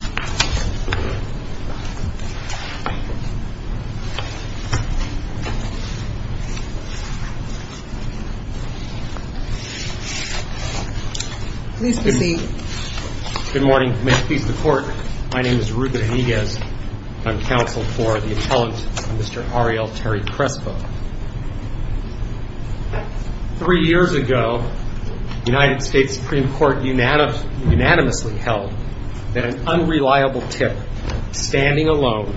Good morning. May it please the Court, my name is Rupert Eniguez, and I'm counsel for the appellant, Mr. Ariel Terry-Crespo. Three years ago, the United States Supreme Court unanimously held that an unreliable tip standing alone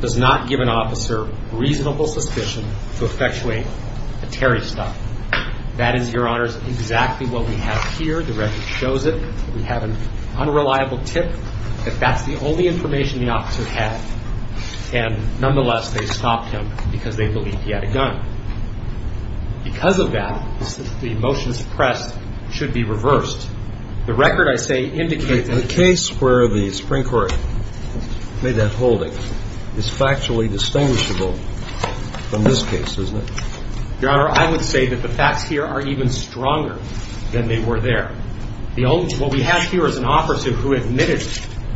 does not give an officer reasonable suspicion to effectuate a Terry stop. That is, Your Honors, exactly what we have here. The record shows it. We have an unreliable tip, but that's the only information the officer had. And nonetheless, they stopped him because they believed he had a gun. Because of that, the motion suppressed should be reversed. The record, I say, indicates that the case where the Supreme Court made that holding is factually distinguishable from this case, isn't it? Your Honor, I would say that the facts here are even stronger than they were there. What we have here is an officer who admitted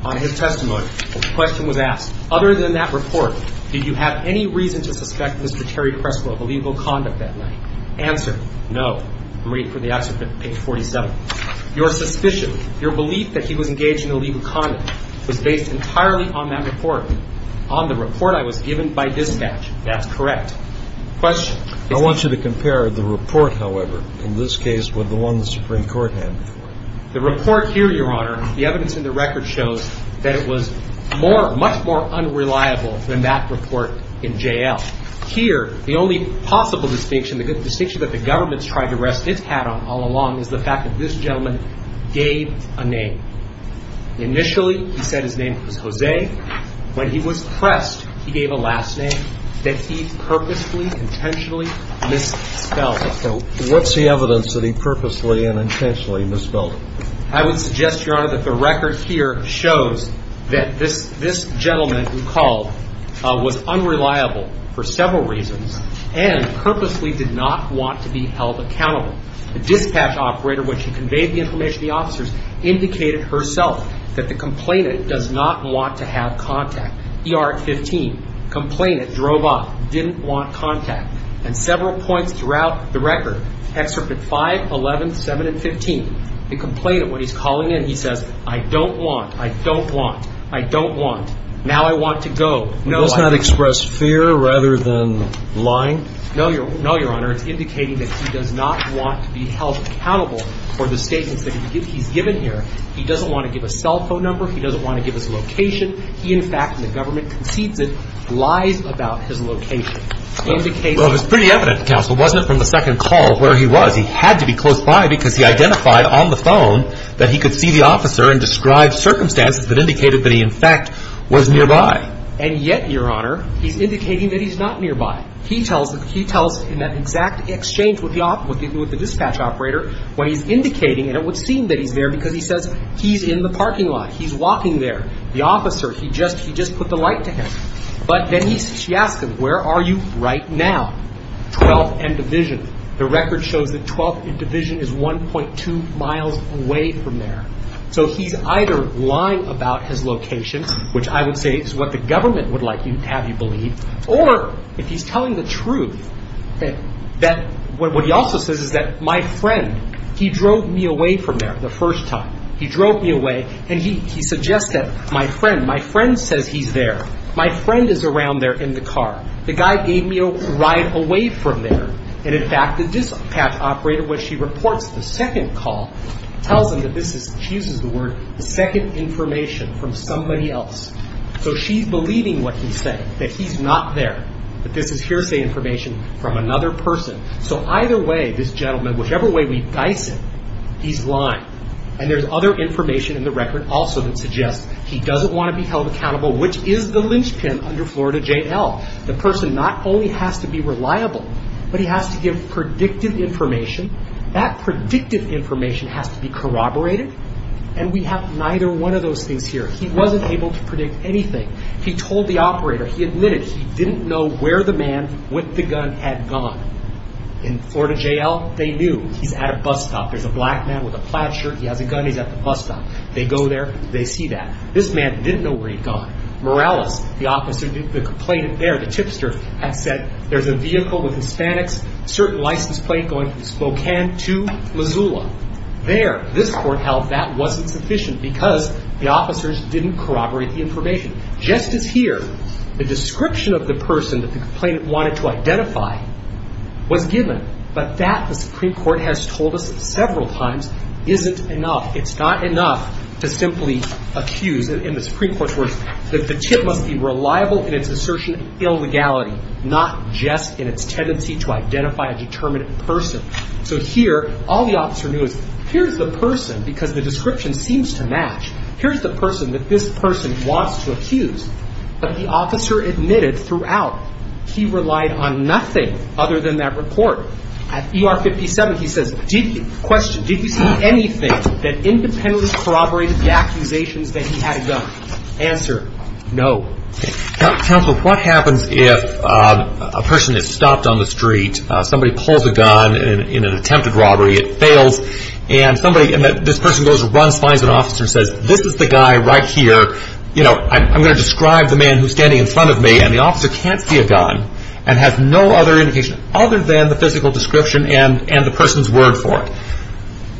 on his testimony that the question was asked, Other than that report, did you have any reason to suspect Mr. Terry-Crespo of illegal conduct that night? Answer, no. I'm reading from the excerpt from page 47. Your suspicion, your belief that he was engaged in illegal conduct was based entirely on that report, on the report I was given by dispatch. That's correct. I want you to compare the report, however, in this case with the one the Supreme Court had before. The report here, Your Honor, the evidence in the record shows that it was much more unreliable than that report in JL. Here, the only possible distinction, the distinction that the government's tried to rest its hat on all along is the fact that this gentleman gave a name. Initially, he said his name was Jose. When he was pressed, he gave a last name that he purposely, intentionally misspelled. What's the evidence that he purposely and intentionally misspelled? I would suggest, Your Honor, that the record here shows that this gentleman who called was unreliable for several reasons and purposely did not want to be held accountable. The dispatch operator, when she conveyed the information to the officers, indicated herself that the complainant does not want to have contact. ER at 15, complainant drove off, didn't want contact. And several points throughout the record, Excerpt at 5, 11, 7, and 15, the complainant, when he's calling in, he says, I don't want, I don't want, I don't want. Now I want to go. He does not express fear rather than lying? No, Your Honor. It's indicating that he does not want to be held accountable for the statements that he's given here. He doesn't want to give a cell phone number. He doesn't want to give his location. He, in fact, and the government concedes it, lies about his location. Well, it was pretty evident, Counsel, wasn't it, from the second call where he was. He had to be close by because he identified on the phone that he could see the officer and describe circumstances that indicated that he, in fact, was nearby. And yet, Your Honor, he's indicating that he's not nearby. He tells, he tells in that exact exchange with the dispatch operator what he's indicating. And it would seem that he's there because he says he's in the parking lot. He's walking there. The police, she asks him, where are you right now? 12th and Division. The record shows that 12th and Division is 1.2 miles away from there. So he's either lying about his location, which I would say is what the government would like you, have you believe, or if he's telling the truth that, what he also says is that my friend, he drove me away from there the first time. He drove me away and he suggests that my friend, my friend says he's there. My friend is around there in the car. The guy gave me a ride away from there. And in fact, the dispatch operator, when she reports the second call, tells him that this is, she uses the word, the second information from somebody else. So she's believing what he's saying, that he's not there, that this is hearsay information from another person. So either way, this gentleman, whichever way we dice it, he's lying. And there's other information in the record also that suggests he doesn't want to be held accountable, which is the lynchpin under Florida J.L. The person not only has to be reliable, but he has to give predictive information. That predictive information has to be corroborated. And we have neither one of those things here. He wasn't able to predict anything. He told the operator, he admitted he didn't know where the man with the gun had gone. In Florida J.L., they knew he's at a bus stop. There's a black man with a plaid shirt, he has a gun, he's at the bus stop. They go there, they see that. This man didn't know where he'd gone. Morales, the officer, the complainant there, the tipster, had said, there's a vehicle with Hispanics, certain license plate going from Spokane to Missoula. There, this court held that wasn't sufficient because the officers didn't corroborate the information. Just as here, the description of the person that the complainant wanted to identify was enough. It's not enough to simply accuse, in the Supreme Court's words, that the tip must be reliable in its assertion of illegality, not just in its tendency to identify a determined person. So here, all the officer knew is, here's the person, because the description seems to match, here's the person that this person wants to accuse. But the officer admitted throughout, he relied on nothing other than that report. At ER 57, he says, did you, question, did you see anything that independently corroborated the accusations that he had a gun? Answer, no. Counsel, what happens if a person is stopped on the street, somebody pulls a gun in an attempted robbery, it fails, and somebody, and this person goes and runs, finds an officer and says, this is the guy right here, you know, I'm going to describe the man who's standing in front of me, and the officer can't see a gun, and has no other indication other than the physical description and the person's word for it.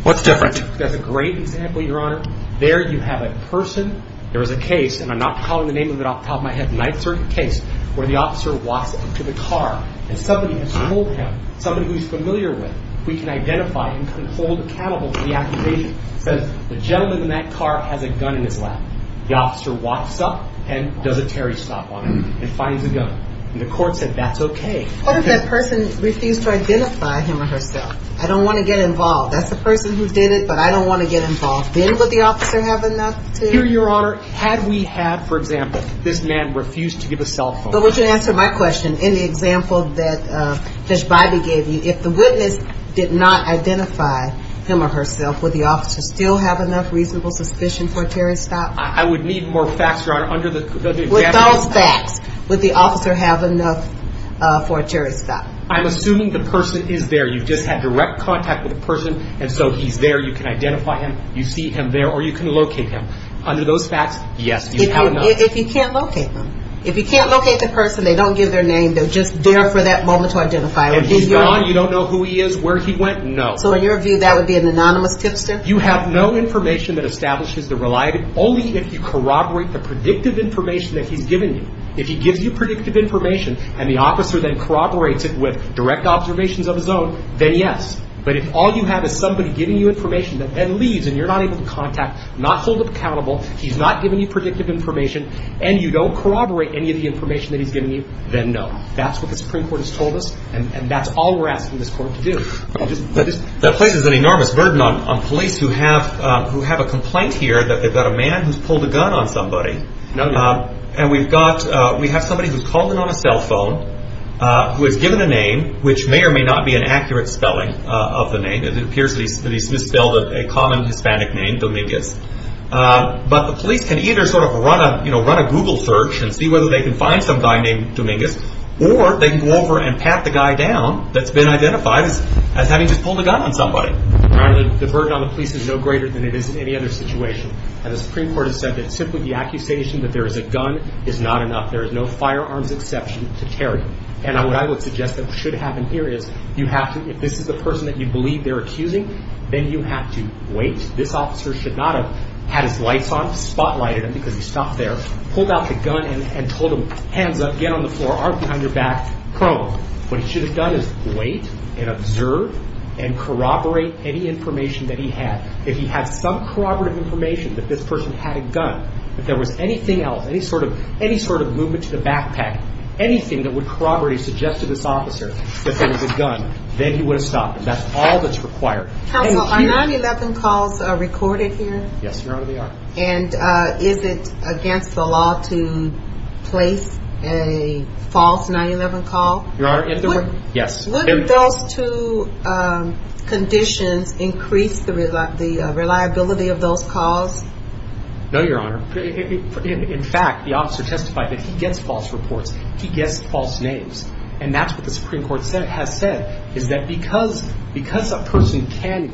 What's different? That's a great example, Your Honor. There you have a person, there is a case, and I'm not calling the name of it off the top of my head, the 9th Circuit case, where the officer walks up to the car, and somebody has told him, somebody who's familiar with, we can identify and can hold accountable for the accusation, says, the gentleman in that car has a gun in his lap. The officer walks up, and does a Terry stop on him, and finds a gun. And the court said, that's okay. What if that person refused to identify him or herself? I don't want to get involved. That's the person who did it, but I don't want to get involved. Then would the officer have enough to... Here, Your Honor, had we had, for example, this man refuse to give a cell phone... But would you answer my question, in the example that Judge Bybee gave you, if the witness did not identify him or herself, would the officer still have enough reasonable suspicion for a Terry stop? I would need more facts, Your Honor, under the... Under those facts, would the officer have enough for a Terry stop? I'm assuming the person is there. You've just had direct contact with the person, and so he's there, you can identify him, you see him there, or you can locate him. Under those facts, yes, you have enough. If you can't locate them, if you can't locate the person, they don't give their name, they're just there for that moment to identify him. And he's gone, you don't know who he is, where he went, no. So in your view, that would be an anonymous tipster? You have no information that establishes the reliability, only if you corroborate the predictive information that he's given you. If he gives you predictive information, and the officer then corroborates it with direct observations of his own, then yes. But if all you have is somebody giving you information that then leaves, and you're not able to contact, not hold him accountable, he's not giving you predictive information, and you don't corroborate any of the information that he's giving you, then no. That's what the Supreme Court has told us, and that's all we're asking this Court to do. That places an enormous burden on police who have a complaint here that they've got a man who's pulled a gun on somebody. No doubt. And we've got, we have somebody who's called in on a cell phone, who has given a name, which may or may not be an accurate spelling of the name, it appears that he's misspelled a common Hispanic name, Dominguez, but the police can either sort of run a Google search and see whether they can find some guy named Dominguez, or they can go over and pat the guy down that's been identified as having just pulled a gun on somebody. The burden on the police is no greater than it is in any other situation, and the Supreme that there is a gun is not enough. There is no firearms exception to Terry. And what I would suggest that should happen here is, you have to, if this is the person that you believe they're accusing, then you have to wait. This officer should not have had his lights on, spotlighted him because he stopped there, pulled out the gun and told him, hands up, get on the floor, arm behind your back, prone. What he should have done is wait and observe and corroborate any information that he had. If he had some corroborative information that this person had a gun, if there was anything else, any sort of movement to the backpack, anything that would corroborate his suggestion to this officer that there was a gun, then he would have stopped him. That's all that's required. Counsel, are 9-11 calls recorded here? Yes, Your Honor, they are. And is it against the law to place a false 9-11 call? Your Honor, if there were, yes. Would those two conditions increase the reliability of those calls? No, Your Honor, in fact, the officer testified that he gets false reports, he gets false names. And that's what the Supreme Court has said, is that because a person can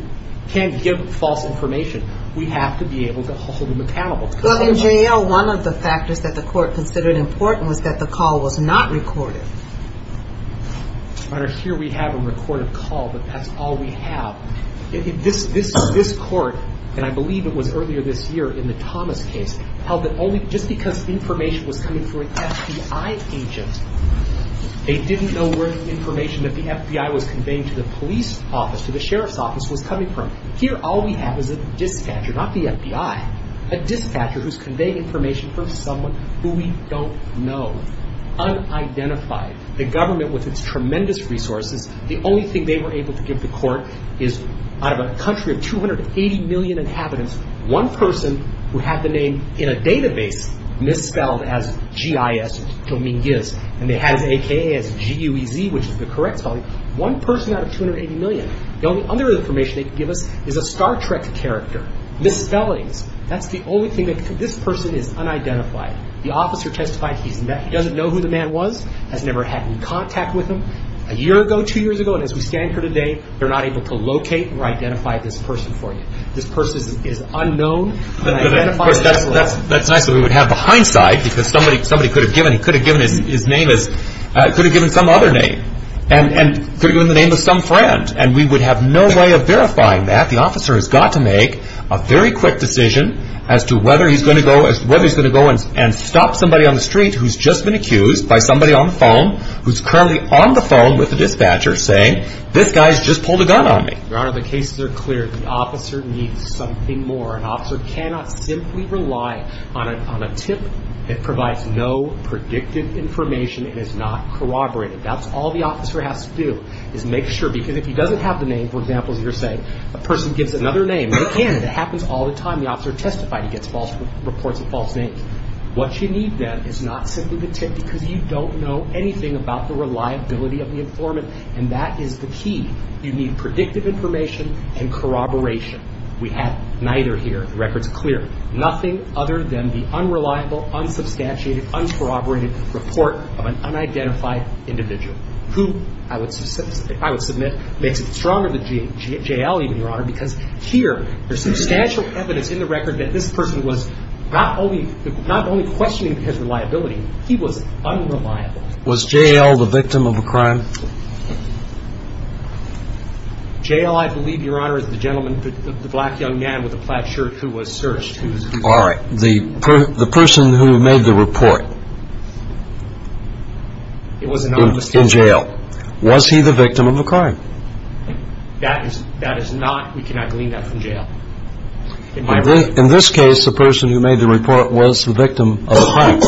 give false information, we have to be able to hold him accountable. Well, in jail, one of the factors that the court considered important was that the call was not recorded. Your Honor, here we have a recorded call, but that's all we have. This court, and I believe it was earlier this year in the Thomas case, held that only just because the information was coming from an FBI agent, they didn't know where the information that the FBI was conveying to the police office, to the sheriff's office, was coming from. Here all we have is a dispatcher, not the FBI, a dispatcher who's conveying information for someone who we don't know, unidentified. The government, with its tremendous resources, the only thing they were able to give the court is, out of a country of 280 million inhabitants, one person who had the name in a database misspelled as G-I-S, or Jominguez, and they had it as A-K-A, as G-U-E-Z, which is the correct spelling, one person out of 280 million. The only other information they could give us is a Star Trek character, misspellings. That's the only thing that could, this person is unidentified. The officer testified he doesn't know who the man was, has never had any contact with him. A year ago, two years ago, and as we stand here today, they're not able to locate or identify this person for you. This person is unknown, unidentified, misspelled. That's nice that we would have the hindsight, because somebody could have given, he could have given his name as, could have given some other name, and could have given the name of some friend, and we would have no way of verifying that. In fact, the officer has got to make a very quick decision as to whether he's going to go, whether he's going to go and stop somebody on the street who's just been accused by somebody on the phone, who's currently on the phone with the dispatcher saying, this guy's just pulled a gun on me. Your Honor, the cases are clear, the officer needs something more. An officer cannot simply rely on a tip that provides no predictive information and is not corroborated. That's all the officer has to do, is make sure, because if he doesn't have the name, for example, you're saying a person gives another name, they can, it happens all the time, the officer testifies, he gets false reports of false names. What you need then is not simply the tip, because you don't know anything about the reliability of the informant, and that is the key. You need predictive information and corroboration. We have neither here, the record's clear. Nothing other than the unreliable, unsubstantiated, uncorroborated report of an unidentified individual, who, I would submit, makes it stronger than J.L. even, Your Honor, because here, there's substantial evidence in the record that this person was not only questioning his reliability, he was unreliable. Was J.L. the victim of a crime? J.L., I believe, Your Honor, is the gentleman, the black young man with the plaid shirt who was searched. All right. The person who made the report. It was a non-mistake. In jail. Was he the victim of a crime? That is not, we cannot glean that from jail. In this case, the person who made the report was the victim of a crime.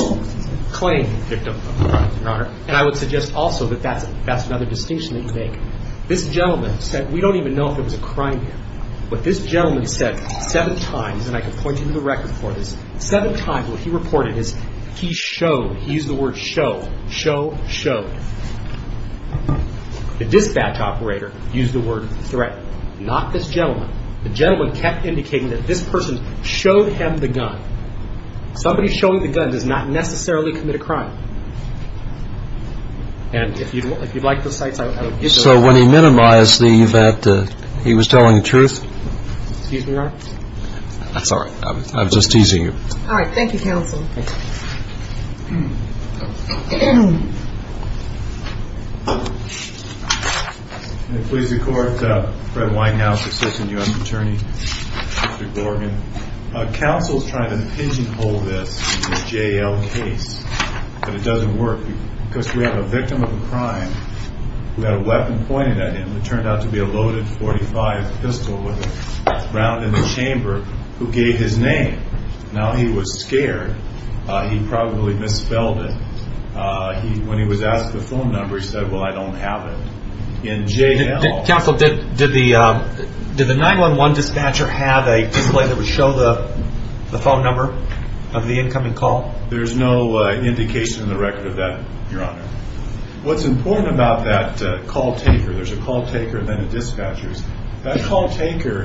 Claimed victim of a crime, Your Honor, and I would suggest also that that's another distinction that you make. This gentleman said, we don't even know if it was a crime yet, but this gentleman said seven times, and I can point you to the record for this, seven times what he reported is he showed, he used the word show, show, showed. The dispatch operator used the word threat. Not this gentleman. The gentleman kept indicating that this person showed him the gun. Somebody showing the gun does not necessarily commit a crime. And if you'd like the cites, I would give you the record. So when he minimized the fact that he was telling the truth? Excuse me, Your Honor. Sorry. I was just teasing you. All right. Thank you, counsel. Thank you. I'm going to please the court, Fred Whitehouse, assistant U.S. attorney, Mr. Gorgan. Counsel's trying to pigeonhole this J.L. case, but it doesn't work because we have a victim of a crime who had a weapon pointed at him. It turned out to be a loaded .45 pistol with a round in the chamber who gave his name. Now he was scared. He probably misspelled it. When he was asked the phone number, he said, well, I don't have it. In J.L. Counsel, did the 9-1-1 dispatcher have a display that would show the phone number of the incoming call? There's no indication in the record of that, Your Honor. What's important about that call taker, there's a call taker and then a dispatcher. That call taker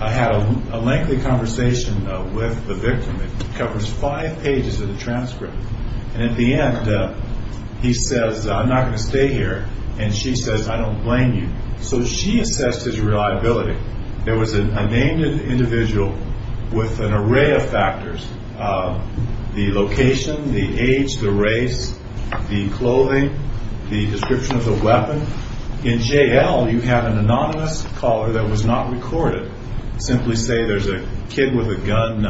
had a lengthy conversation with the victim. It covers five pages of the transcript. And at the end, he says, I'm not going to stay here. And she says, I don't blame you. So she assessed his reliability. There was a named individual with an array of factors, the location, the age, the race, the clothing, the description of the weapon. In J.L., you have an anonymous caller that was not recorded. Simply say there's a kid with a gun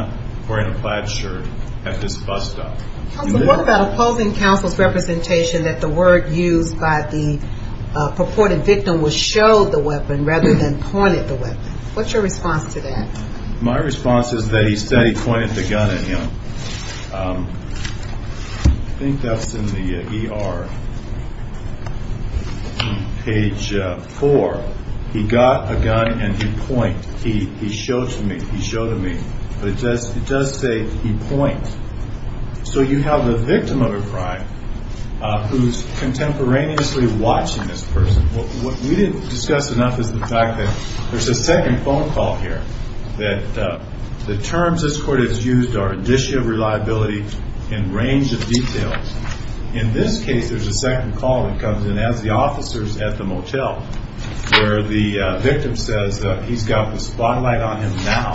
wearing a plaid shirt at this bus stop. Counsel, what about opposing counsel's representation that the word used by the purported victim was show the weapon rather than pointed the weapon? What's your response to that? My response is that he said he pointed the gun at him. I think that's in the ER, page four. He got a gun and he pointed. He showed to me, he showed to me. But it does say he pointed. So you have a victim of a crime who's contemporaneously watching this person. What we didn't discuss enough is the fact that there's a second phone call here. That the terms this court has used are indicia of reliability and range of details. In this case, there's a second call that comes in as the officer's at the motel, where the victim says that he's got the spotlight on him now.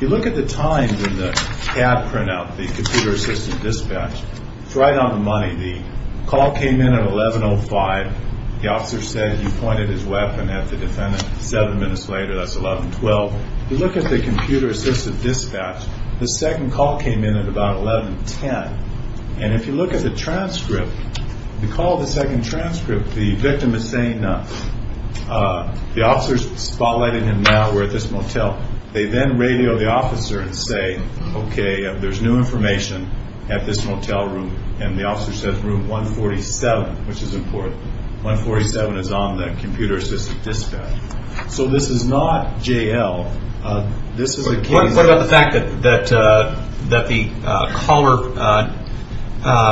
You look at the times in the CAD printout, the computer assistant dispatch. It's right on the money. The call came in at 11.05. The officer said he pointed his weapon at the defendant. Seven minutes later, that's 11.12. You look at the computer assistant dispatch, the second call came in at about 11.10. And if you look at the transcript, the call, the second transcript, the victim is saying the officer's spotlighting him now, we're at this motel. They then radio the officer and say, okay, there's new information at this motel room. And the officer says room 147, which is important. 147 is on the computer assistant dispatch. So this is not JL, this is a case- What about the fact that the caller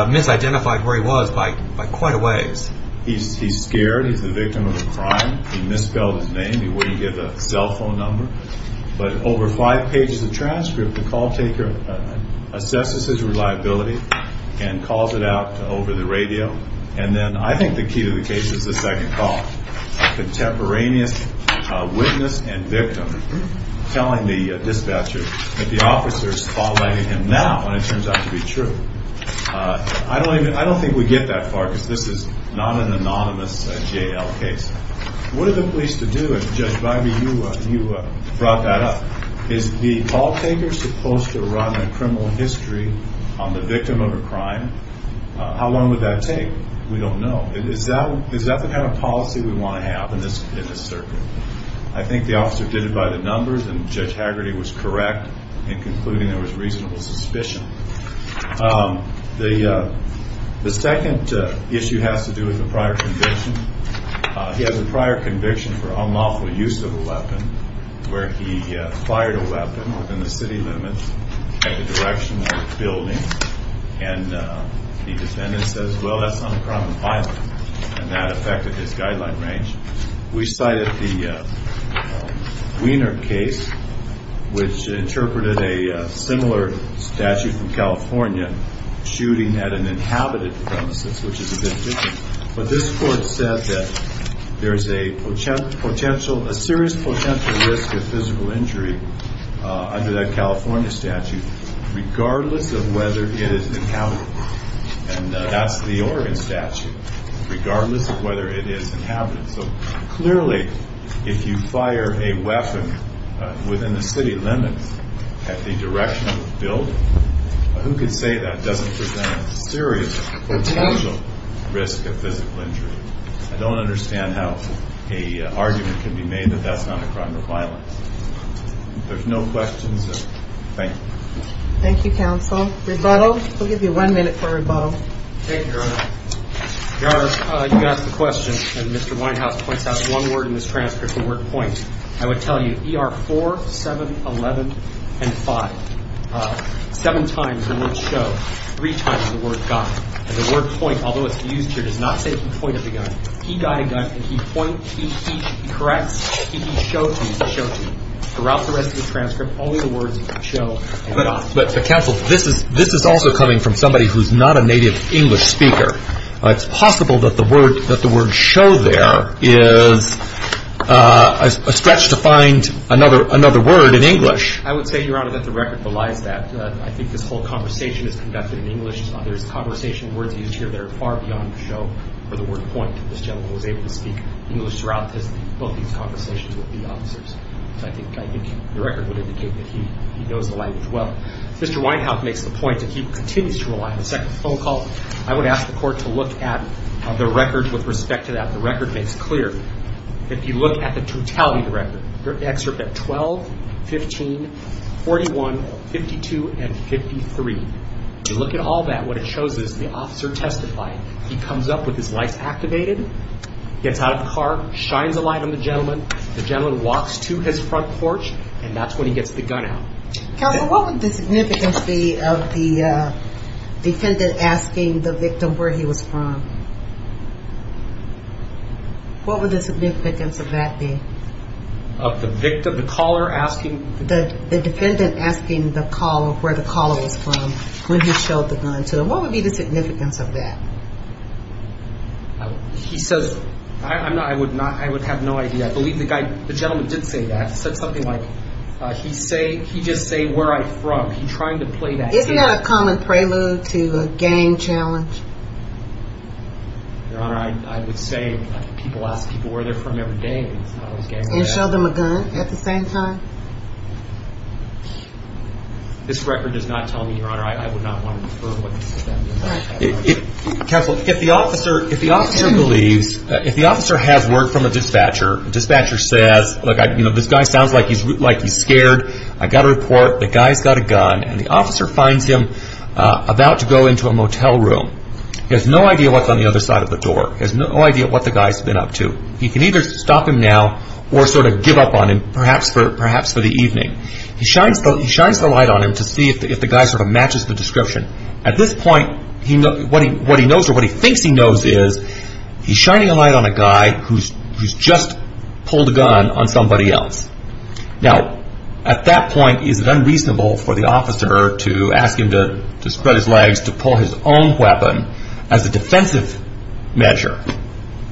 misidentified where he was by quite a ways? He's scared, he's the victim of a crime. He misspelled his name, he wouldn't give a cell phone number. But over five pages of transcript, the call taker assesses his reliability and calls it out over the radio. And then I think the key to the case is the second call. A contemporaneous witness and victim telling the dispatcher that the officer's spotlighting him now, and it turns out to be true. I don't think we get that far, because this is not an anonymous JL case. What are the police to do if, Judge Bagby, you brought that up? Is the call taker supposed to run a criminal history on the victim of a crime? How long would that take? We don't know. Is that the kind of policy we want to have in this circuit? I think the officer did it by the numbers, and Judge Haggerty was correct in concluding there was reasonable suspicion. The second issue has to do with the prior conviction. He has a prior conviction for unlawful use of a weapon, where he fired a weapon within the city limits at the direction of a building. And the defendant says, well, that's not a crime of violence. And that affected his guideline range. We cited the Wiener case, which interpreted a similar statute from California, shooting at an inhabited premises, which is a victim. But this court said that there's a serious potential risk of physical injury under that California statute, regardless of whether it is inhabited. And that's the Oregon statute, regardless of whether it is inhabited. So clearly, if you fire a weapon within the city limits at the direction of a building, who could say that doesn't present a serious potential risk of physical injury? I don't understand how a argument can be made that that's not a crime of violence. There's no questions. Thank you. Thank you, counsel. Rebuttal. We'll give you one minute for rebuttal. Thank you, Your Honor. Your Honor, you asked the question, and Mr. Winehouse points out one word in this transcript, the word point. I would tell you, ER 4711 and 5, seven times the word show, three times the word guide. And the word point, although it's used here, does not say point of the gun. He guide a gun, and he point, he corrects, he show to use the show to. Throughout the rest of the transcript, only the words show. But counsel, this is also coming from somebody who's not a native English speaker. It's possible that the word show there is a stretch to find another word in English. I would say, Your Honor, that the record belies that. I think this whole conversation is conducted in English. There's conversation words used here that are far beyond the show for the word point. This gentleman was able to speak English throughout both these conversations with the officers. I think the record would indicate that he knows the language well. Mr. Winehouse makes the point that he continues to rely on the second phone call. I would ask the court to look at the record with respect to that. The record makes clear that if you look at the totality of the record, the excerpt at 12, 15, 41, 52, and 53. If you look at all that, what it shows is the officer testified. He comes up with his lights activated, gets out of the car, shines a light on the gentleman. The gentleman walks to his front porch, and that's when he gets the gun out. Counsel, what would the significance be of the defendant asking the victim where he was from? What would the significance of that be? Of the victim, the caller asking? The defendant asking the caller where the caller was from when he showed the gun to them. What would be the significance of that? He says, I would have no idea. I believe the gentleman did say that. He said something like, he just say where I'm from. He's trying to play that game. Isn't that a common prelude to a game challenge? Your Honor, I would say people ask people where they're from every day. And show them a gun at the same time? This record does not tell me, Your Honor, I would not want to infer what the significance of that would be. Counsel, if the officer believes, if the officer has word from a dispatcher, dispatcher says, look, this guy sounds like he's scared. I got a report, the guy's got a gun, and the officer finds him about to go into a motel room. He has no idea what's on the other side of the door. He has no idea what the guy's been up to. He can either stop him now or sort of give up on him, perhaps for the evening. He shines the light on him to see if the guy sort of matches the description. At this point, what he knows or what he thinks he knows is, he's shining a light on a guy who's just pulled a gun on somebody else. Now, at that point, is it unreasonable for the officer to ask him to spread his legs, to pull his own weapon as a defensive measure?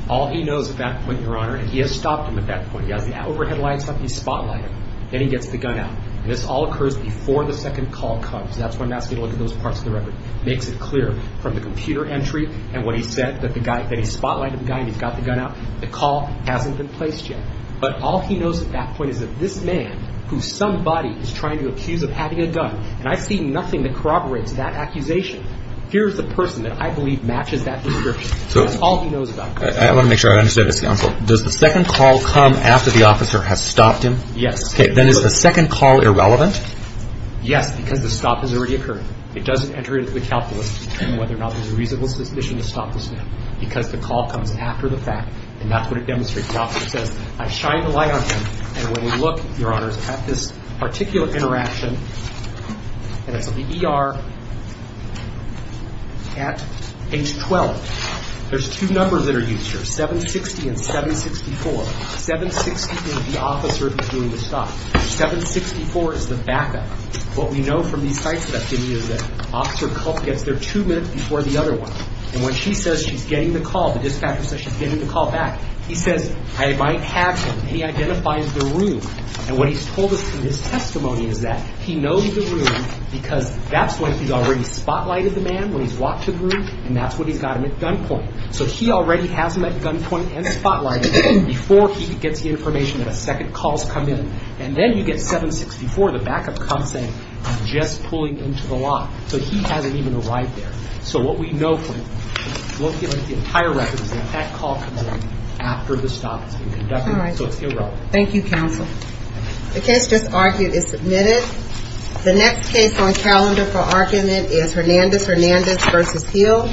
All he knows at that point, Your Honor, and he has stopped him at that point. He has the overhead lines up, he's spotlighted, then he gets the gun out. This all occurs before the second call comes. That's why I'm asking you to look at those parts of the record. Makes it clear from the computer entry and what he said that he spotlighted the guy and he's got the gun out. The call hasn't been placed yet. But all he knows at that point is that this man, who somebody is trying to accuse of having a gun, and I see nothing that corroborates that accusation. Here's the person that I believe matches that description. That's all he knows about. I want to make sure I understand this, counsel. Does the second call come after the officer has stopped him? Yes. Then is the second call irrelevant? Yes, because the stop has already occurred. It doesn't enter into the calculus to determine whether or not there's a reasonable suspicion to stop this man. Because the call comes after the fact, and that's what it demonstrates. The officer says, I shined a light on him, and when we look, Your Honors, at this particular interaction, and it's in the ER at age 12. There's two numbers that are used here, 760 and 764. 760 means the officer is doing the stop. 764 is the backup. What we know from these sites that I've given you is that Officer Culp gets there two minutes before the other one. And when she says she's getting the call, the dispatcher says she's getting the call back. He says, I might have him, and he identifies the room. And what he's told us from his testimony is that he knows the room because that's when he's already spotlighted the man when he's walked to the room, and that's when he's got him at gunpoint. So he already has him at gunpoint and spotlighted before he gets the information that a second call's come in. And then you get 764, the backup comes saying, I'm just pulling into the lot. So he hasn't even arrived there. So what we know from it, we'll get the entire records that that call comes in after the stop has been conducted, so it's irrelevant. Thank you, counsel. The case just argued is submitted. The next case on calendar for argument is Hernandez-Hernandez v. Heal.